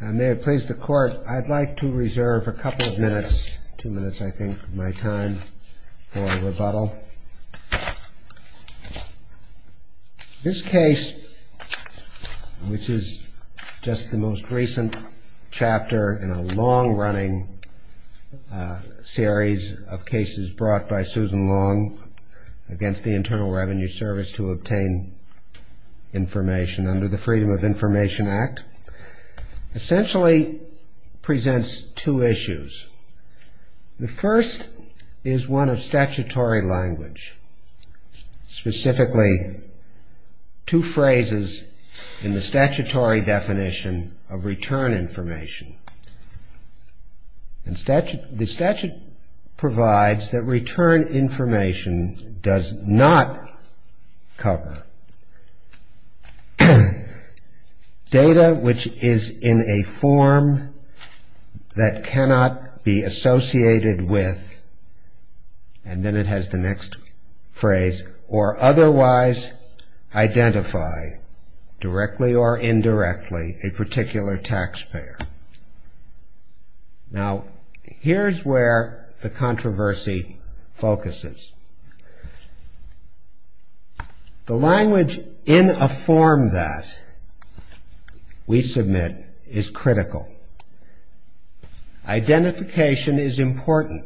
May it please the Court, I'd like to reserve a couple of minutes, two minutes I think, of my time for rebuttal. This case, which is just the most recent chapter in a long-running series of cases brought by Susan Long against the Internal Revenue Service to obtain information under the Freedom of Information Act, essentially presents two issues. The first is one of statutory language, specifically two phrases in the statutory definition of return information. The statute provides that return information does not cover data which is in a form that cannot be associated with, and then it has the next phrase, or otherwise identify directly or indirectly a particular taxpayer. Now, here's where the controversy focuses. The language in a form that we submit is critical. Identification is important,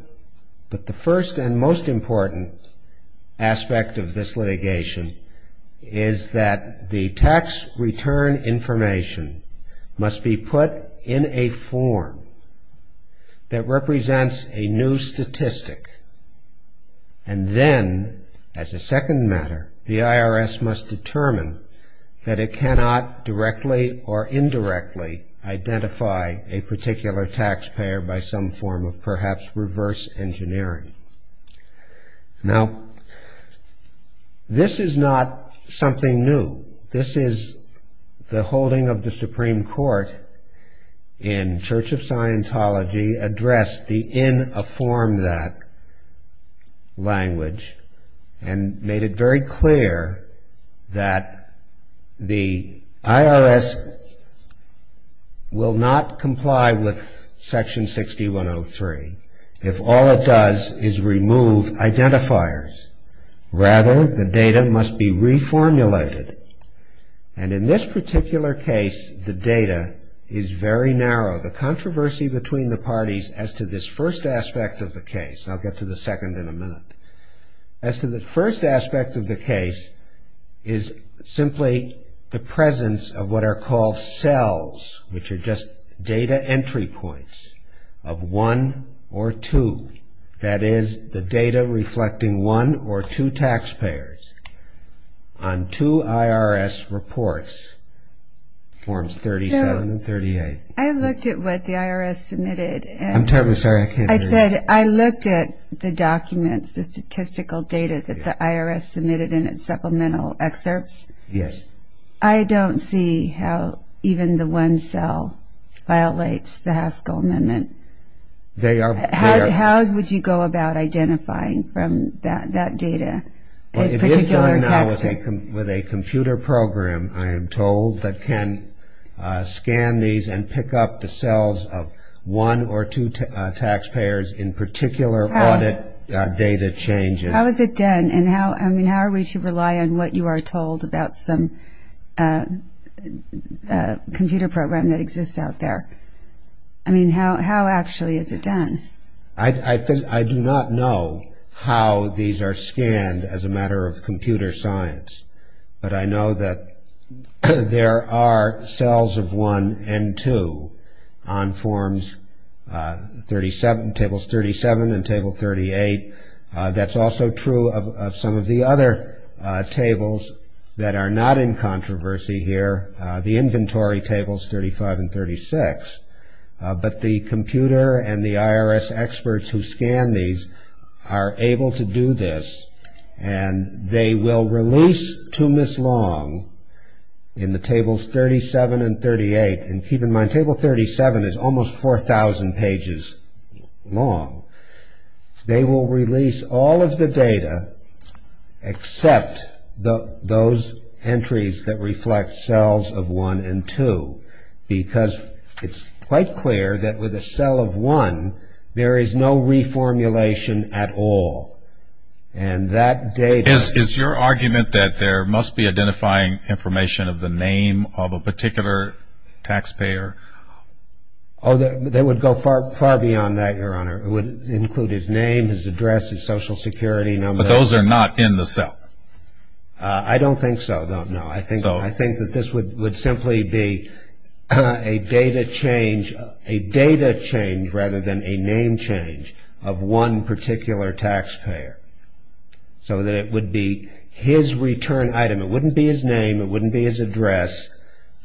but the first and most important aspect of this litigation is that the tax return information must be put in a form that represents a new statistic, and then as a second matter, the IRS must determine that it cannot directly or indirectly identify a particular taxpayer by some form of perhaps reverse engineering. Now, this is not something new. This is the holding of the Supreme Court in Church of Scientology in a form that language and made it very clear that the IRS will not comply with Section 6103 if all it does is remove identifiers. Rather, the data must be reformulated, and in this particular case, the data is very narrow. The controversy between the parties as to this first aspect of the case, and I'll get to the second in a minute, as to the first aspect of the case, is simply the presence of what are called cells, which are just data entry points of one or two, that is, the data reflecting one or two taxpayers on two IRS reports, forms 37 and 38. So, I looked at what the IRS submitted. I'm terribly sorry, I can't hear you. I said I looked at the documents, the statistical data that the IRS submitted in its supplemental excerpts. Yes. I don't see how even the one cell violates the Haskell Amendment. How would you go about identifying from that data? Well, if it's done now with a computer program, I am told, that can scan these and pick up the cells of one or two taxpayers in particular audit data changes. How is it done? And how are we to rely on what you are told about some computer program that exists out there? I mean, how actually is it done? I do not know how these are scanned as a matter of computer science, but I know that there are cells of one and two on forms 37, tables 37 and table 38. That's also true of some of the other tables that are not in controversy here, the inventory tables 35 and 36, but the computer and the IRS experts who scan these are able to do this and they will release to Ms. Long in the tables 37 and 38. And keep in mind, table 37 is almost 4,000 pages long. They will release all of the data except those entries that reflect cells of one and two, because it's quite clear that with a cell of one, there is no reformulation at all. And that data... Is your argument that there must be identifying information of the name of a particular taxpayer? Oh, they would go far beyond that, Your Honor. It would include his name, his address, his Social Security number. But those are not in the cell? I don't think so, no. I think that this would simply be a data change rather than a name change of one particular taxpayer, so that it would be his return item. It wouldn't be his address.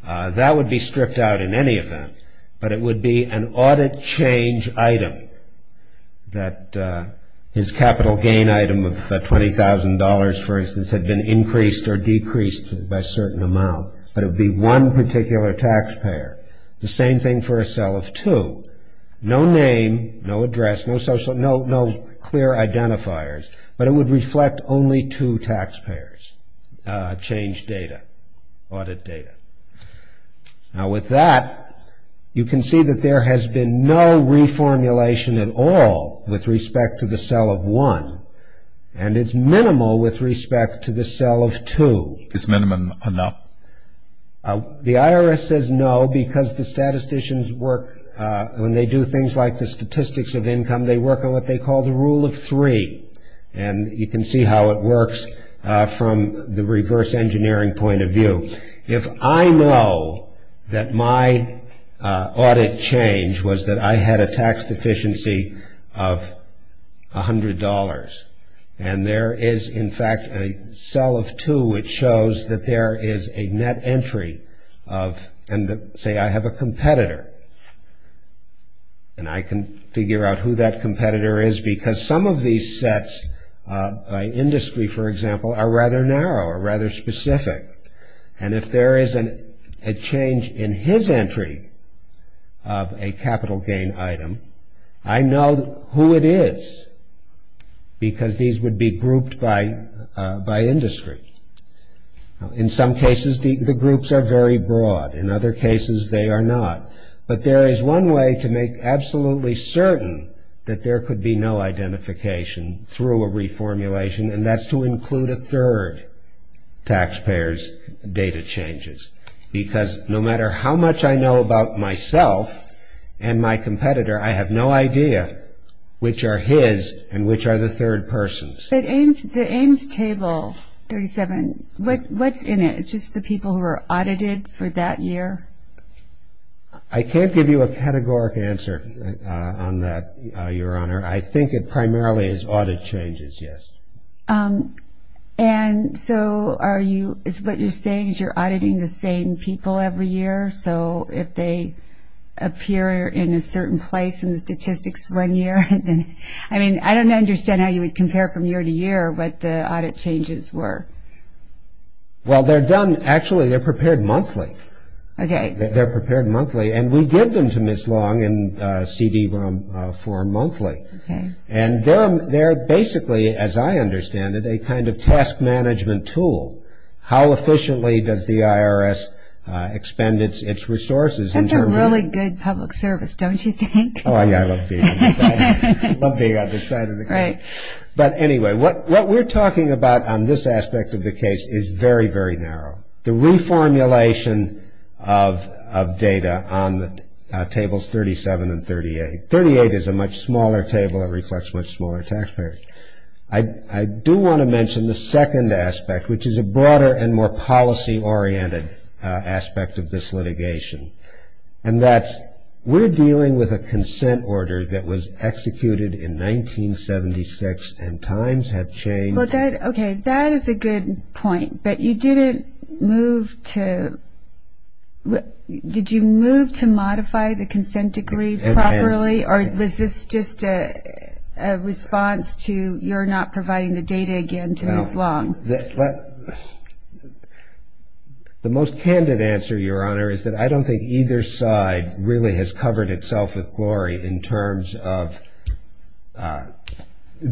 That would be stripped out in any event, but it would be an audit change item that his capital gain item of $20,000, for instance, had been increased or decreased by a certain amount. But it would be one particular taxpayer. The same thing for a cell of two. No name, no address, no social... no clear identifiers, but it would reflect only two taxpayers' change data, audit data. Now, with that, you can see that there has been no reformulation at all with respect to the cell of one, and it's minimal with respect to the cell of two. It's minimum enough? The IRS says no because the statisticians work... When they do things like the statistics of income, they work on what they call the rule of three, and you can see how it works from the reverse engineering point of view. If I know that my audit change was that I had a tax deficiency of $100, and there is, in fact, a cell of two, which shows that there is a net entry of... and say I have a competitor, and I can figure out who that competitor is because some of these sets, by industry, for example, are rather narrow or rather specific. And if there is a change in his entry of a capital gain item, I know who it is because these would be grouped by industry. In some cases, the groups are very broad. In other cases, they are not. But there is one way to make absolutely certain that there could be no identification through a reformulation, and that's to include a third taxpayer's data changes because no matter how much I know about myself and my competitor, I have no idea which are his and which are the third person's. But the AIMS Table 37, what's in it? It's just the people who are audited for that year? I can't give you a categoric answer on that, Your Honor. I think it primarily is audit changes, yes. And so are you – is what you're saying is you're auditing the same people every year, so if they appear in a certain place in the statistics one year, then – I mean, I don't understand how you would compare from year to year what the audit changes were. Well, they're done – actually, they're prepared monthly. Okay. They're prepared monthly, and we give them to Ms. Long in CD form monthly. Okay. And they're basically, as I understand it, a kind of task management tool. How efficiently does the IRS expend its resources? That's a really good public service, don't you think? Oh, yeah, I love being on this side of the – I love being on this side of the – Right. But anyway, what we're talking about on this aspect of the case is very, very narrow. The reformulation of data on Tables 37 and 38. 38 is a much smaller table. It reflects much smaller tax payers. I do want to mention the second aspect, which is a broader and more policy-oriented aspect of this litigation, and that's we're dealing with a consent order that was executed in 1976, and times have changed. Okay, that is a good point, but you didn't move to – Was this just a response to you're not providing the data again to Ms. Long? The most candid answer, Your Honor, is that I don't think either side really has covered itself with glory in terms of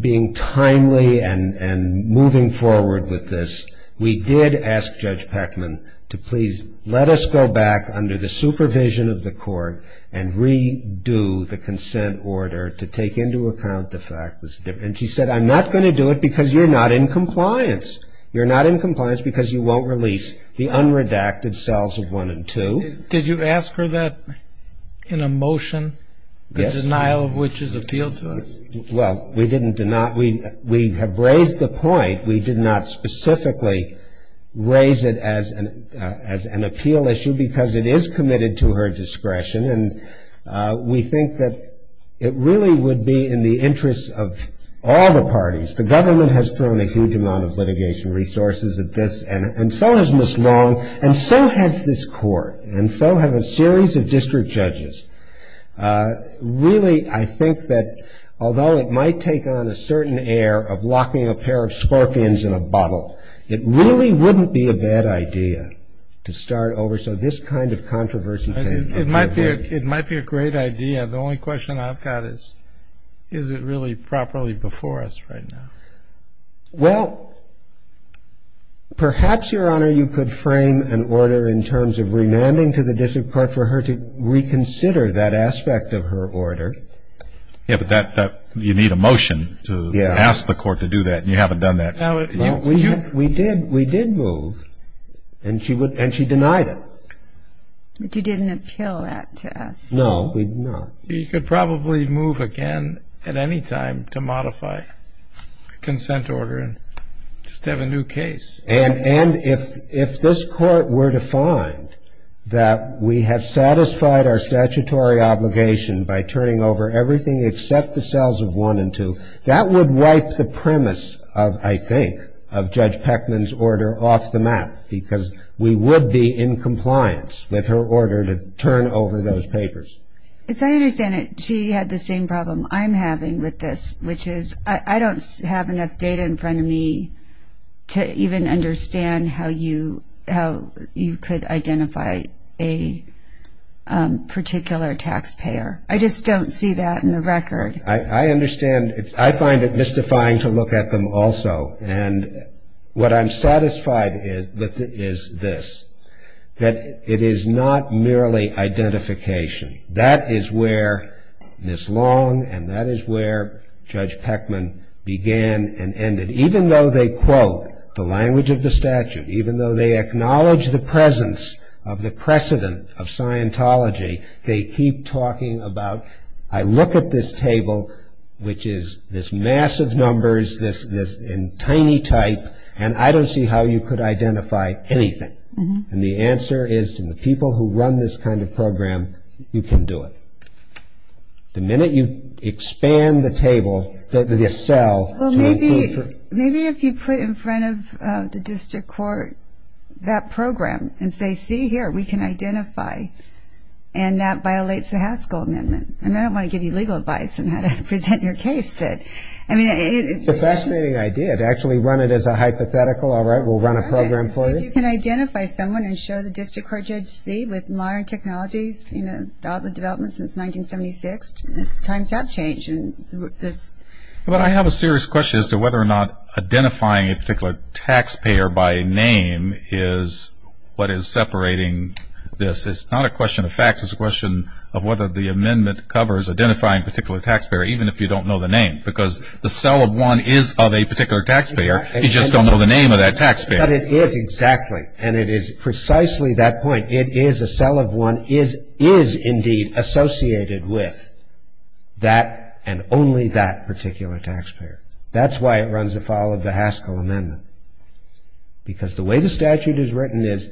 being timely and moving forward with this. We did ask Judge Peckman to please let us go back under the supervision of the court and redo the consent order to take into account the fact that – and she said, I'm not going to do it because you're not in compliance. You're not in compliance because you won't release the unredacted cells of 1 and 2. Did you ask her that in a motion, the denial of which is appealed to us? Well, we didn't – we have raised the point. We did not specifically raise it as an appeal issue because it is committed to her discretion, and we think that it really would be in the interest of all the parties. The government has thrown a huge amount of litigation resources at this, and so has Ms. Long, and so has this court, and so have a series of district judges. Really, I think that although it might take on a certain air of locking a pair of scorpions in a bottle, it really wouldn't be a bad idea to start over. So this kind of controversy – It might be a great idea. The only question I've got is, is it really properly before us right now? Well, perhaps, Your Honor, you could frame an order in terms of remanding to the district court for her to reconsider that aspect of her order. Yeah, but that – you need a motion to ask the court to do that, and you haven't done that. We did move, and she denied it. But you didn't appeal that to us. No, we did not. You could probably move again at any time to modify the consent order and just have a new case. And if this court were to find that we have satisfied our statutory obligation by turning over everything except the cells of 1 and 2, that would wipe the premise of, I think, of Judge Peckman's order off the map because we would be in compliance with her order to turn over those papers. As I understand it, she had the same problem I'm having with this, which is I don't have enough data in front of me to even understand how you could identify a particular taxpayer. I just don't see that in the record. I understand. I find it mystifying to look at them also. And what I'm satisfied with is this, that it is not merely identification. That is where Ms. Long and that is where Judge Peckman began and ended. Even though they quote the language of the statute, even though they acknowledge the presence of the precedent of Scientology, they keep talking about, I look at this table, which is this massive numbers, this tiny type, and I don't see how you could identify anything. And the answer is to the people who run this kind of program, you can do it. The minute you expand the table, the cell. Well, maybe if you put in front of the district court that program and say, see here, we can identify, and that violates the Haskell Amendment. And I don't want to give you legal advice on how to present your case. It's a fascinating idea to actually run it as a hypothetical. All right, we'll run a program for you. See if you can identify someone and show the district court judge, see with modern technologies and all the developments since 1976, times have changed. But I have a serious question as to whether or not identifying a particular taxpayer by name is what is separating this. It's not a question of facts. It's a question of whether the amendment covers identifying a particular taxpayer, even if you don't know the name. Because the cell of one is of a particular taxpayer. You just don't know the name of that taxpayer. But it is, exactly. And it is precisely that point. It is a cell of one is indeed associated with that and only that particular taxpayer. That's why it runs afoul of the Haskell Amendment. Because the way the statute is written is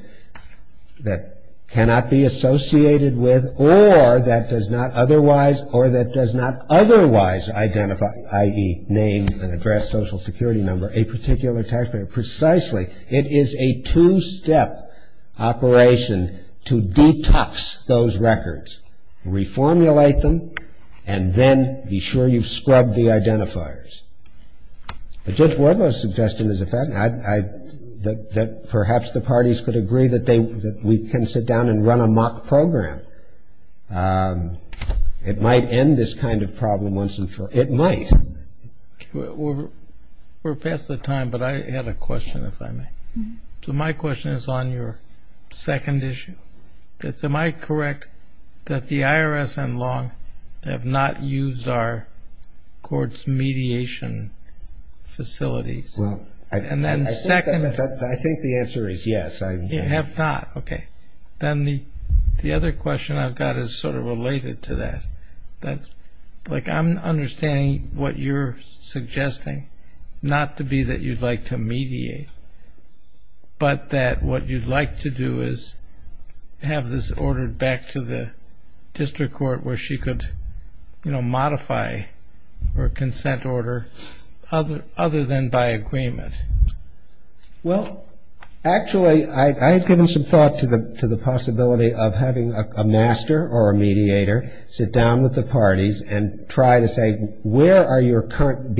that cannot be associated with or that does not otherwise identify, i.e., name and address, social security number, a particular taxpayer. Precisely. It is a two-step operation to detox those records, reformulate them, and then be sure you've scrubbed the identifiers. But Judge Wadlow's suggestion is a fact, that perhaps the parties could agree that we can sit down and run a mock program. It might end this kind of problem once and for all. It might. We're past the time, but I had a question, if I may. So my question is on your second issue. Am I correct that the IRS and long have not used our courts' mediation facilities? Well, I think the answer is yes. You have not? Okay. Then the other question I've got is sort of related to that. Like I'm understanding what you're suggesting, not to be that you'd like to mediate, but that what you'd like to do is have this ordered back to the district court where she could, you know, modify her consent order other than by agreement. Well, actually, I had given some thought to the possibility of having a master or a mediator sit down with the parties and try to say where are your current,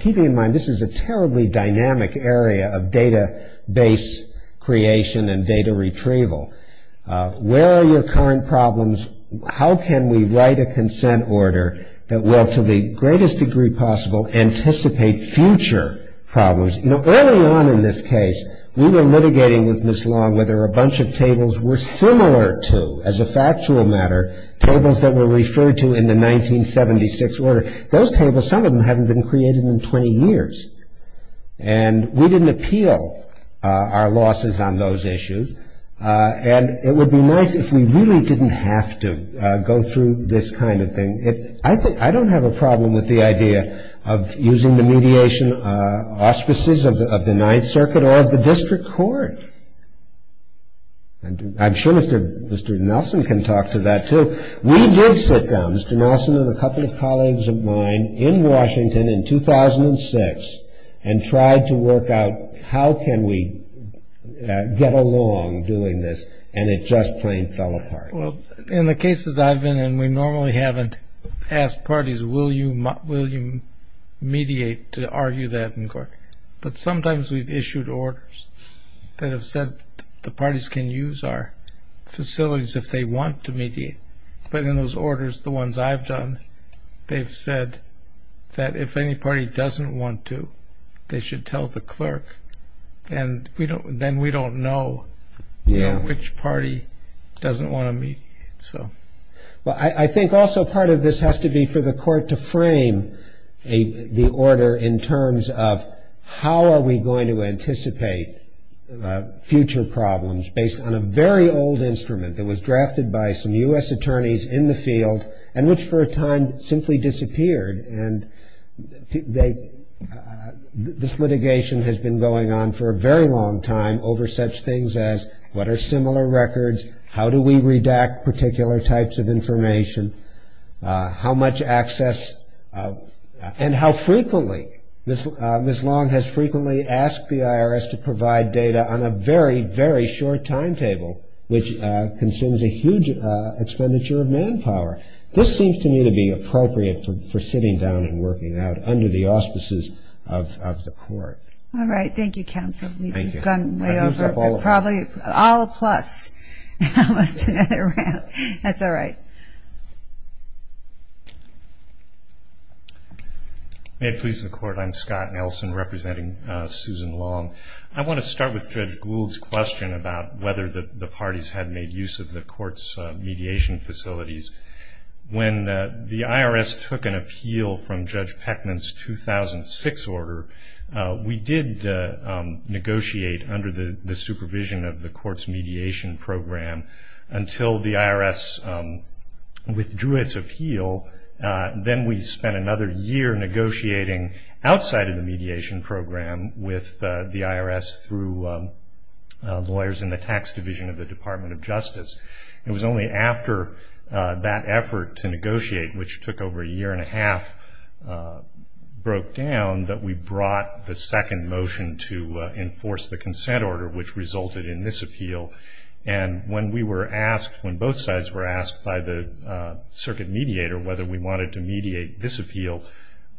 keeping in mind this is a terribly dynamic area of database creation and data retrieval, where are your current problems, how can we write a consent order that will, to the greatest degree possible, anticipate future problems. You know, early on in this case, we were litigating with Ms. Long whether a bunch of tables were similar to, as a factual matter, tables that were referred to in the 1976 order. Those tables, some of them haven't been created in 20 years. And we didn't appeal our losses on those issues. And it would be nice if we really didn't have to go through this kind of thing. I don't have a problem with the idea of using the mediation auspices of the Ninth Circuit or of the district court. I'm sure Mr. Nelson can talk to that, too. We did sit down, Mr. Nelson and a couple of colleagues of mine, in Washington in 2006 and tried to work out how can we get along doing this, and it just plain fell apart. Well, in the cases I've been in, we normally haven't asked parties will you mediate to argue that inquiry. But sometimes we've issued orders that have said the parties can use our facilities if they want to mediate. But in those orders, the ones I've done, they've said that if any party doesn't want to, they should tell the clerk. And then we don't know which party doesn't want to mediate. Well, I think also part of this has to be for the court to frame the order in terms of how are we going to anticipate future problems based on a very old instrument that was drafted by some U.S. attorneys in the field and which for a time simply disappeared. And this litigation has been going on for a very long time over such things as what are similar records, how do we redact particular types of information, how much access, and how frequently Ms. Long has frequently asked the IRS to provide data on a very, very short timetable, which consumes a huge expenditure of manpower. This seems to me to be appropriate for sitting down and working it out under the auspices of the court. All right. Thank you, counsel. Thank you. I've gone way over. Probably all plus. That's all right. May it please the court, I'm Scott Nelson representing Susan Long. I want to start with Judge Gould's question about whether the parties had made use of the court's mediation facilities. When the IRS took an appeal from Judge Peckman's 2006 order, we did negotiate under the supervision of the court's mediation program until the IRS withdrew its appeal. Then we spent another year negotiating outside of the mediation program with the IRS through lawyers in the tax division of the Department of Justice. It was only after that effort to negotiate, which took over a year and a half, broke down that we brought the second motion to enforce the consent order, which resulted in this appeal. And when we were asked, when both sides were asked by the circuit mediator whether we wanted to mediate this appeal,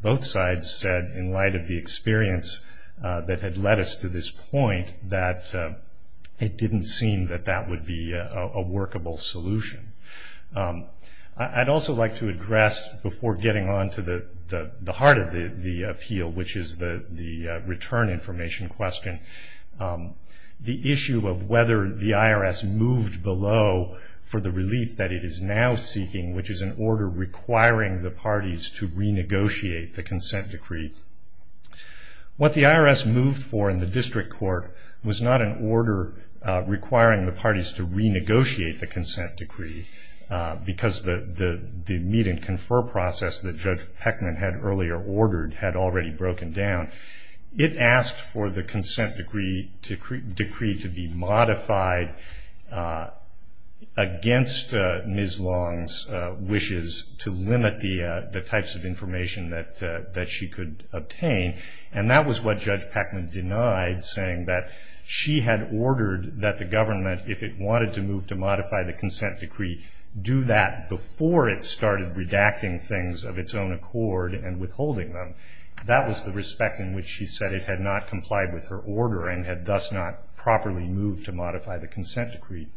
both sides said, in light of the experience that had led us to this point, that it didn't seem that that would be a workable solution. I'd also like to address, before getting on to the heart of the appeal, which is the return information question, the issue of whether the IRS moved below for the relief that it is now seeking, which is an order requiring the parties to renegotiate the consent decree. What the IRS moved for in the district court was not an order requiring the parties to renegotiate the consent decree, because the meet-and-confer process that Judge Heckman had earlier ordered had already broken down. It asked for the consent decree to be modified against Ms. Long's wishes to limit the types of information that she could obtain. And that was what Judge Heckman denied, saying that she had ordered that the government, if it wanted to move to modify the consent decree, do that before it started redacting things of its own accord and withholding them. That was the respect in which she said it had not complied with her order and had thus not properly moved to modify the consent decree.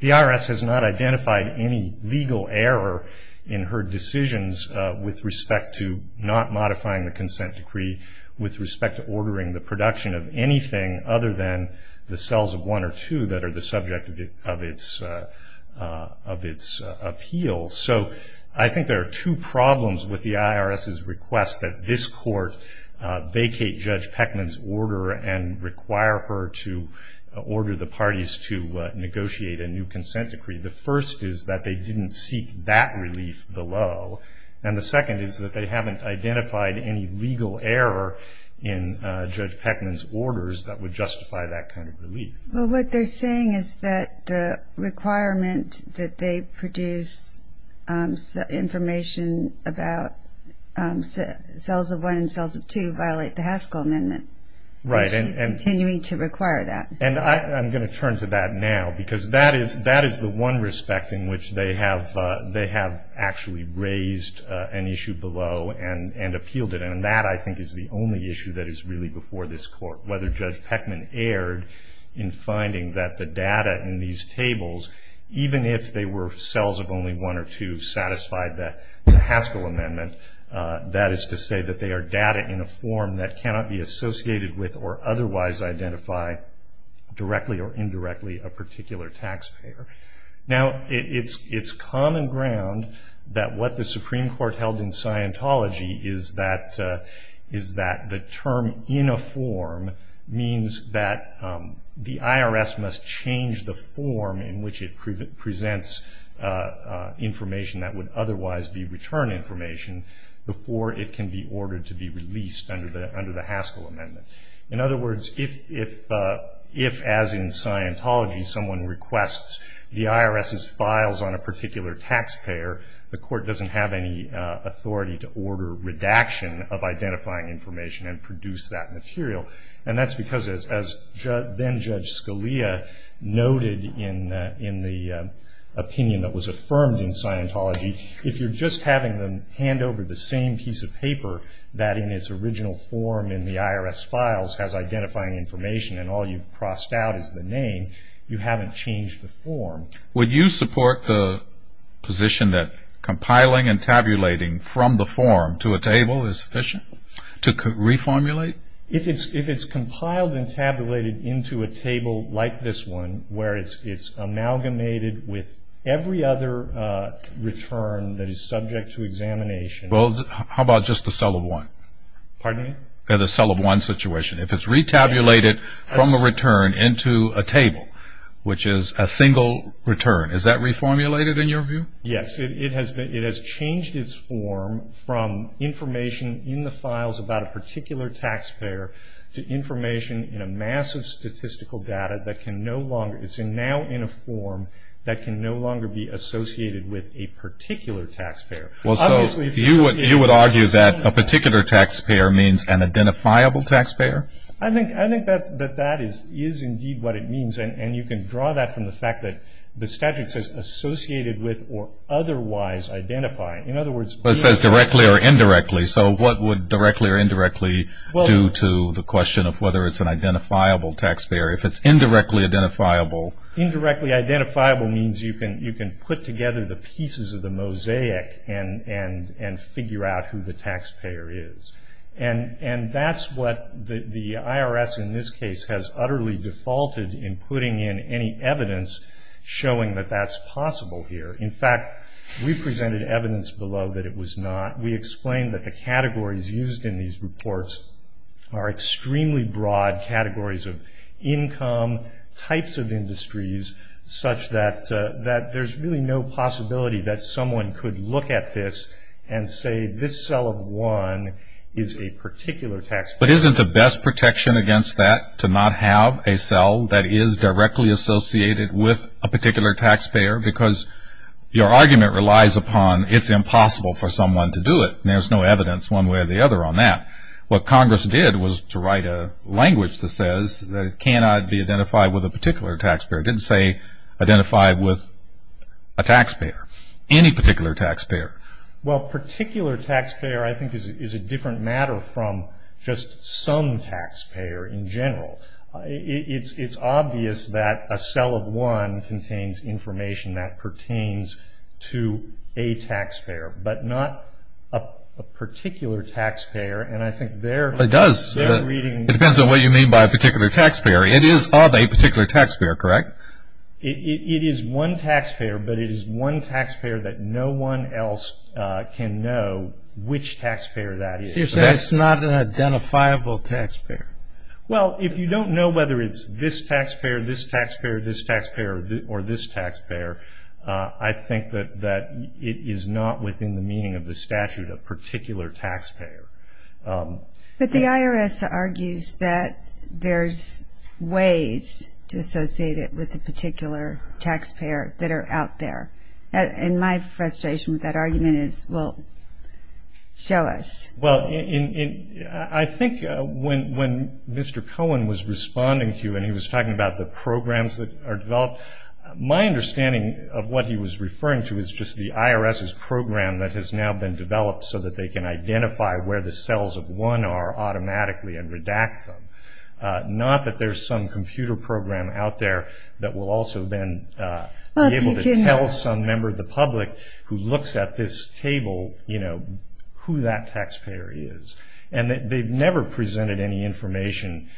The IRS has not identified any legal error in her decisions with respect to not modifying the consent decree, with respect to ordering the production of anything other than the cells of one or two that are the subject of its appeal. So I think there are two problems with the IRS's request that this court vacate Judge Heckman's order and require her to order the parties to negotiate a new consent decree. The first is that they didn't seek that relief below, and the second is that they haven't identified any legal error in Judge Heckman's orders Well, what they're saying is that the requirement that they produce information about cells of one and cells of two violate the Haskell Amendment. Right. And she's continuing to require that. And I'm going to turn to that now, because that is the one respect in which they have actually raised an issue below and appealed it, and that, I think, is the only issue that is really before this court. Whether Judge Heckman erred in finding that the data in these tables, even if they were cells of only one or two satisfied the Haskell Amendment, that is to say that they are data in a form that cannot be associated with or otherwise identify directly or indirectly a particular taxpayer. Now, it's common ground that what the Supreme Court held in Scientology is that the term in a form means that the IRS must change the form in which it presents information that would otherwise be return information before it can be ordered to be released under the Haskell Amendment. In other words, if, as in Scientology, someone requests the IRS's files on a particular taxpayer, the court doesn't have any authority to order redaction of identifying information and produce that material. And that's because, as then-Judge Scalia noted in the opinion that was affirmed in Scientology, if you're just having them hand over the same piece of paper that in its original form in the IRS files has identifying information and all you've crossed out is the name, you haven't changed the form. Would you support the position that compiling and tabulating from the form to a table is sufficient to reformulate? If it's compiled and tabulated into a table like this one, where it's amalgamated with every other return that is subject to examination. Well, how about just the cell of one? Pardon me? The cell of one situation. If it's re-tabulated from a return into a table, which is a single return, is that reformulated in your view? Yes. It has changed its form from information in the files about a particular taxpayer to information in a mass of statistical data that can no longer, it's now in a form that can no longer be associated with a particular taxpayer. Well, so you would argue that a particular taxpayer means an identifiable taxpayer? I think that that is indeed what it means, and you can draw that from the fact that the statute says associated with or otherwise identified. Well, it says directly or indirectly. So what would directly or indirectly do to the question of whether it's an identifiable taxpayer? If it's indirectly identifiable. Indirectly identifiable means you can put together the pieces of the mosaic and figure out who the taxpayer is. And that's what the IRS in this case has utterly defaulted in putting in any evidence showing that that's possible here. In fact, we presented evidence below that it was not. We explained that the categories used in these reports are extremely broad categories of income, types of industries such that there's really no possibility that someone could look at this and say this cell of one is a particular taxpayer. But isn't the best protection against that to not have a cell that is directly associated with a particular taxpayer? Because your argument relies upon it's impossible for someone to do it, and there's no evidence one way or the other on that. What Congress did was to write a language that says that it cannot be identified with a particular taxpayer. It didn't say identified with a taxpayer, any particular taxpayer. Well, particular taxpayer I think is a different matter from just some taxpayer in general. It's obvious that a cell of one contains information that pertains to a taxpayer, but not a particular taxpayer, and I think they're reading- It does. It depends on what you mean by a particular taxpayer. It is of a particular taxpayer, correct? It is one taxpayer, but it is one taxpayer that no one else can know which taxpayer that is. So you're saying it's not an identifiable taxpayer. Well, if you don't know whether it's this taxpayer, this taxpayer, this taxpayer, or this taxpayer, I think that it is not within the meaning of the statute a particular taxpayer. But the IRS argues that there's ways to associate it with a particular taxpayer that are out there, and my frustration with that argument is, well, show us. Well, I think when Mr. Cohen was responding to you and he was talking about the programs that are developed, my understanding of what he was referring to is just the IRS's program that has now been developed so that they can identify where the cells of one are automatically and redact them, not that there's some computer program out there that will also then be able to tell some member of the public who looks at this table, you know, who that taxpayer is. And they've never presented any information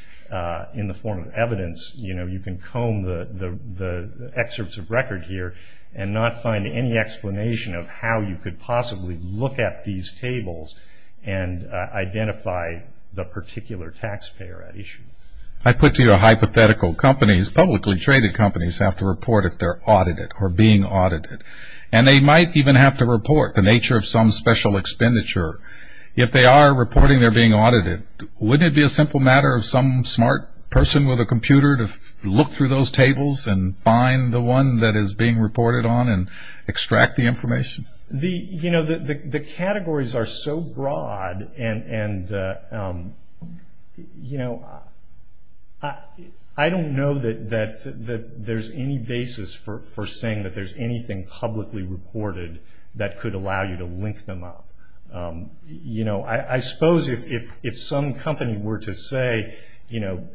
in the form of evidence. You know, you can comb the excerpts of record here and not find any explanation of how you could possibly look at these tables and identify the particular taxpayer at issue. I put to you a hypothetical. Companies, publicly traded companies, have to report if they're audited or being audited, and they might even have to report the nature of some special expenditure. If they are reporting they're being audited, wouldn't it be a simple matter of some smart person with a computer to look through those tables and find the one that is being reported on and extract the information? You know, the categories are so broad, and, you know, I don't know that there's any basis for saying that there's anything publicly reported that could allow you to link them up. You know, I suppose if some company were to say, you know,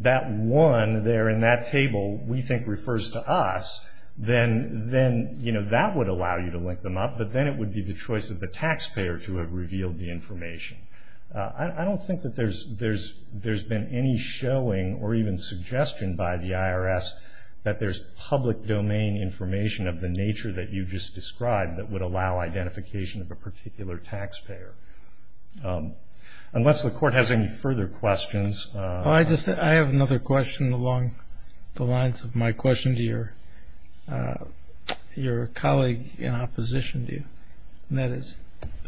that one there in that table we think refers to us, then, you know, that would allow you to link them up, but then it would be the choice of the taxpayer to have revealed the information. I don't think that there's been any showing or even suggestion by the IRS that there's public domain information of the nature that you just described that would allow identification of a particular taxpayer. Unless the Court has any further questions. Well, I have another question along the lines of my question to your colleague in opposition to you, and that is,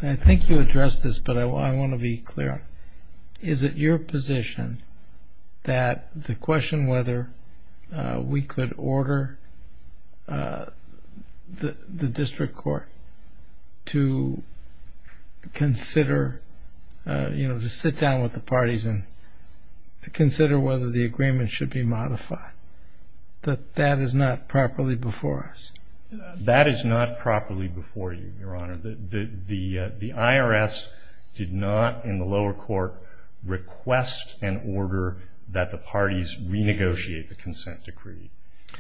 and I think you addressed this, but I want to be clear, is it your position that the question whether we could order the district court to consider, you know, to sit down with the parties and consider whether the agreement should be modified, that that is not properly before us? That is not properly before you, Your Honor. The IRS did not in the lower court request an order that the parties renegotiate the consent decree,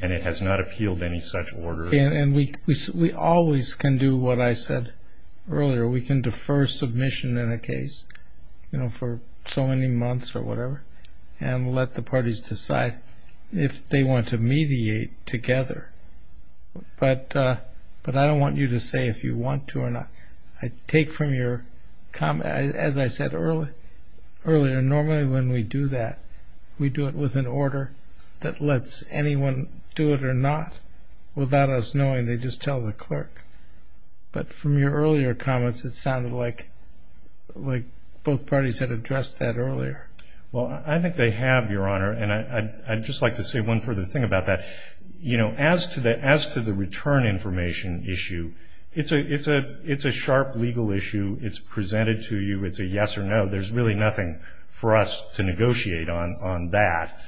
and it has not appealed any such order. And we always can do what I said earlier. We can defer submission in a case, you know, for so many months or whatever, and let the parties decide if they want to mediate together. But I don't want you to say if you want to or not. I take from your comment, as I said earlier, normally when we do that, we do it with an order that lets anyone do it or not without us knowing. They just tell the clerk. But from your earlier comments, it sounded like both parties had addressed that earlier. Well, I think they have, Your Honor. And I'd just like to say one further thing about that. You know, as to the return information issue, it's a sharp legal issue. It's presented to you. It's a yes or no. There's really nothing for us to negotiate on that.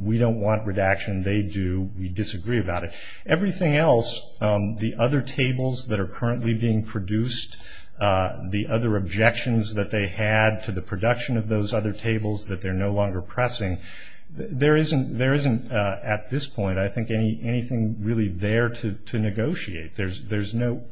We don't want redaction. They do. We disagree about it. Everything else, the other tables that are currently being produced, the other objections that they had to the production of those other tables that they're no longer pressing, there isn't, at this point, I think anything really there to negotiate. There's no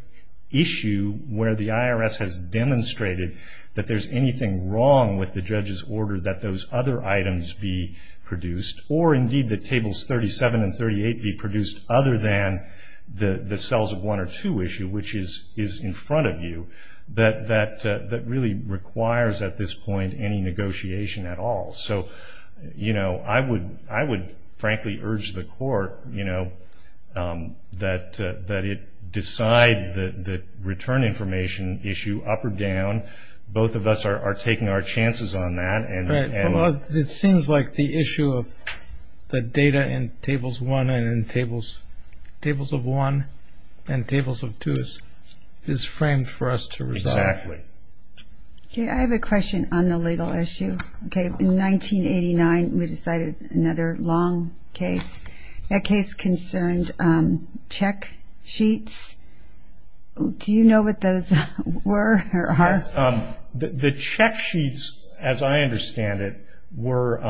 issue where the IRS has demonstrated that there's anything wrong with the judge's order that those other items be produced, or indeed the tables 37 and 38 be produced, other than the cells of one or two issue, which is in front of you, that really requires, at this point, any negotiation at all. So, you know, I would frankly urge the court, you know, that it decide the return information issue up or down. Both of us are taking our chances on that. It seems like the issue of the data in Tables 1 and in Tables of 1 and Tables of 2 is framed for us to resolve. Exactly. Okay, I have a question on the legal issue. Okay, in 1989 we decided another long case, a case concerned check sheets. Do you know what those were or are? The check sheets, as I understand it, were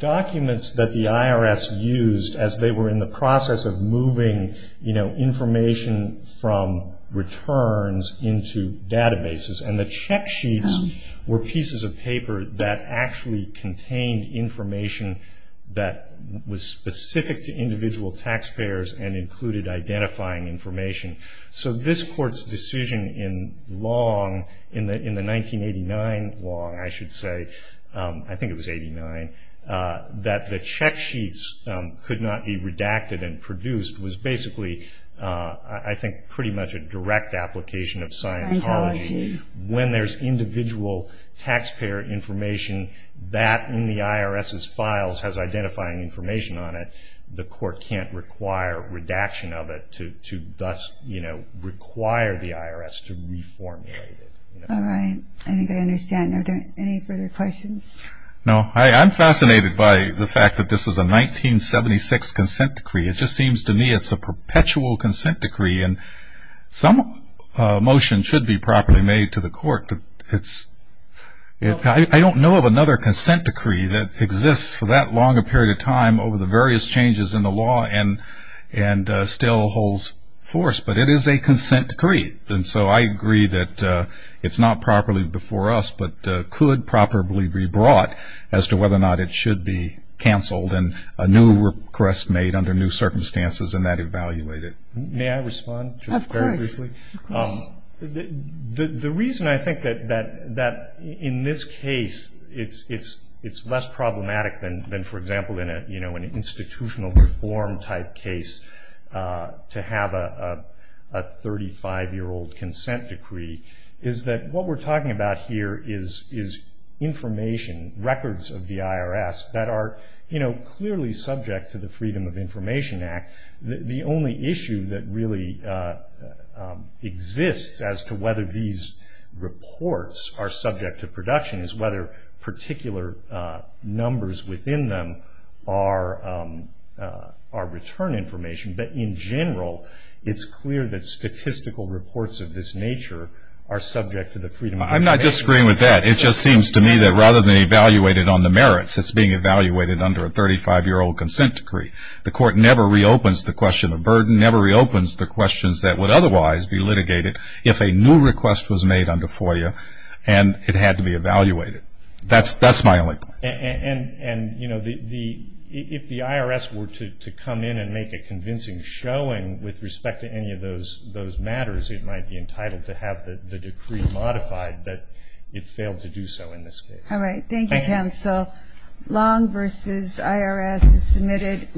documents that the IRS used as they were in the process of moving, you know, information from returns into databases. And the check sheets were pieces of paper that actually contained information that was specific to individual taxpayers and included identifying information. So this court's decision in long, in the 1989 long, I should say, I think it was 89, that the check sheets could not be redacted and produced was basically I think pretty much a direct application of Scientology. When there's individual taxpayer information that in the IRS's files has identifying information on it, the court can't require redaction of it to thus, you know, require the IRS to reformulate it. All right. I think I understand. Are there any further questions? No. I'm fascinated by the fact that this is a 1976 consent decree. It just seems to me it's a perpetual consent decree, and some motion should be properly made to the court. in the law and still holds force, but it is a consent decree. And so I agree that it's not properly before us, but could properly be brought as to whether or not it should be canceled and a new request made under new circumstances and that evaluated. May I respond? Of course. The reason I think that in this case it's less problematic than, for example, in an institutional reform type case to have a 35-year-old consent decree is that what we're talking about here is information, records of the IRS that are clearly subject to the Freedom of Information Act. The only issue that really exists as to whether these reports are subject to production is whether particular numbers within them are return information. But in general, it's clear that statistical reports of this nature are subject to the Freedom of Information Act. I'm not disagreeing with that. It just seems to me that rather than evaluate it on the merits, it's being evaluated under a 35-year-old consent decree. The court never reopens the question of burden, never reopens the questions that would otherwise be litigated if a new request was made under FOIA and it had to be evaluated. That's my only point. And if the IRS were to come in and make a convincing showing with respect to any of those matters, it might be entitled to have the decree modified that it failed to do so in this case. All right. Long v. IRS is submitted.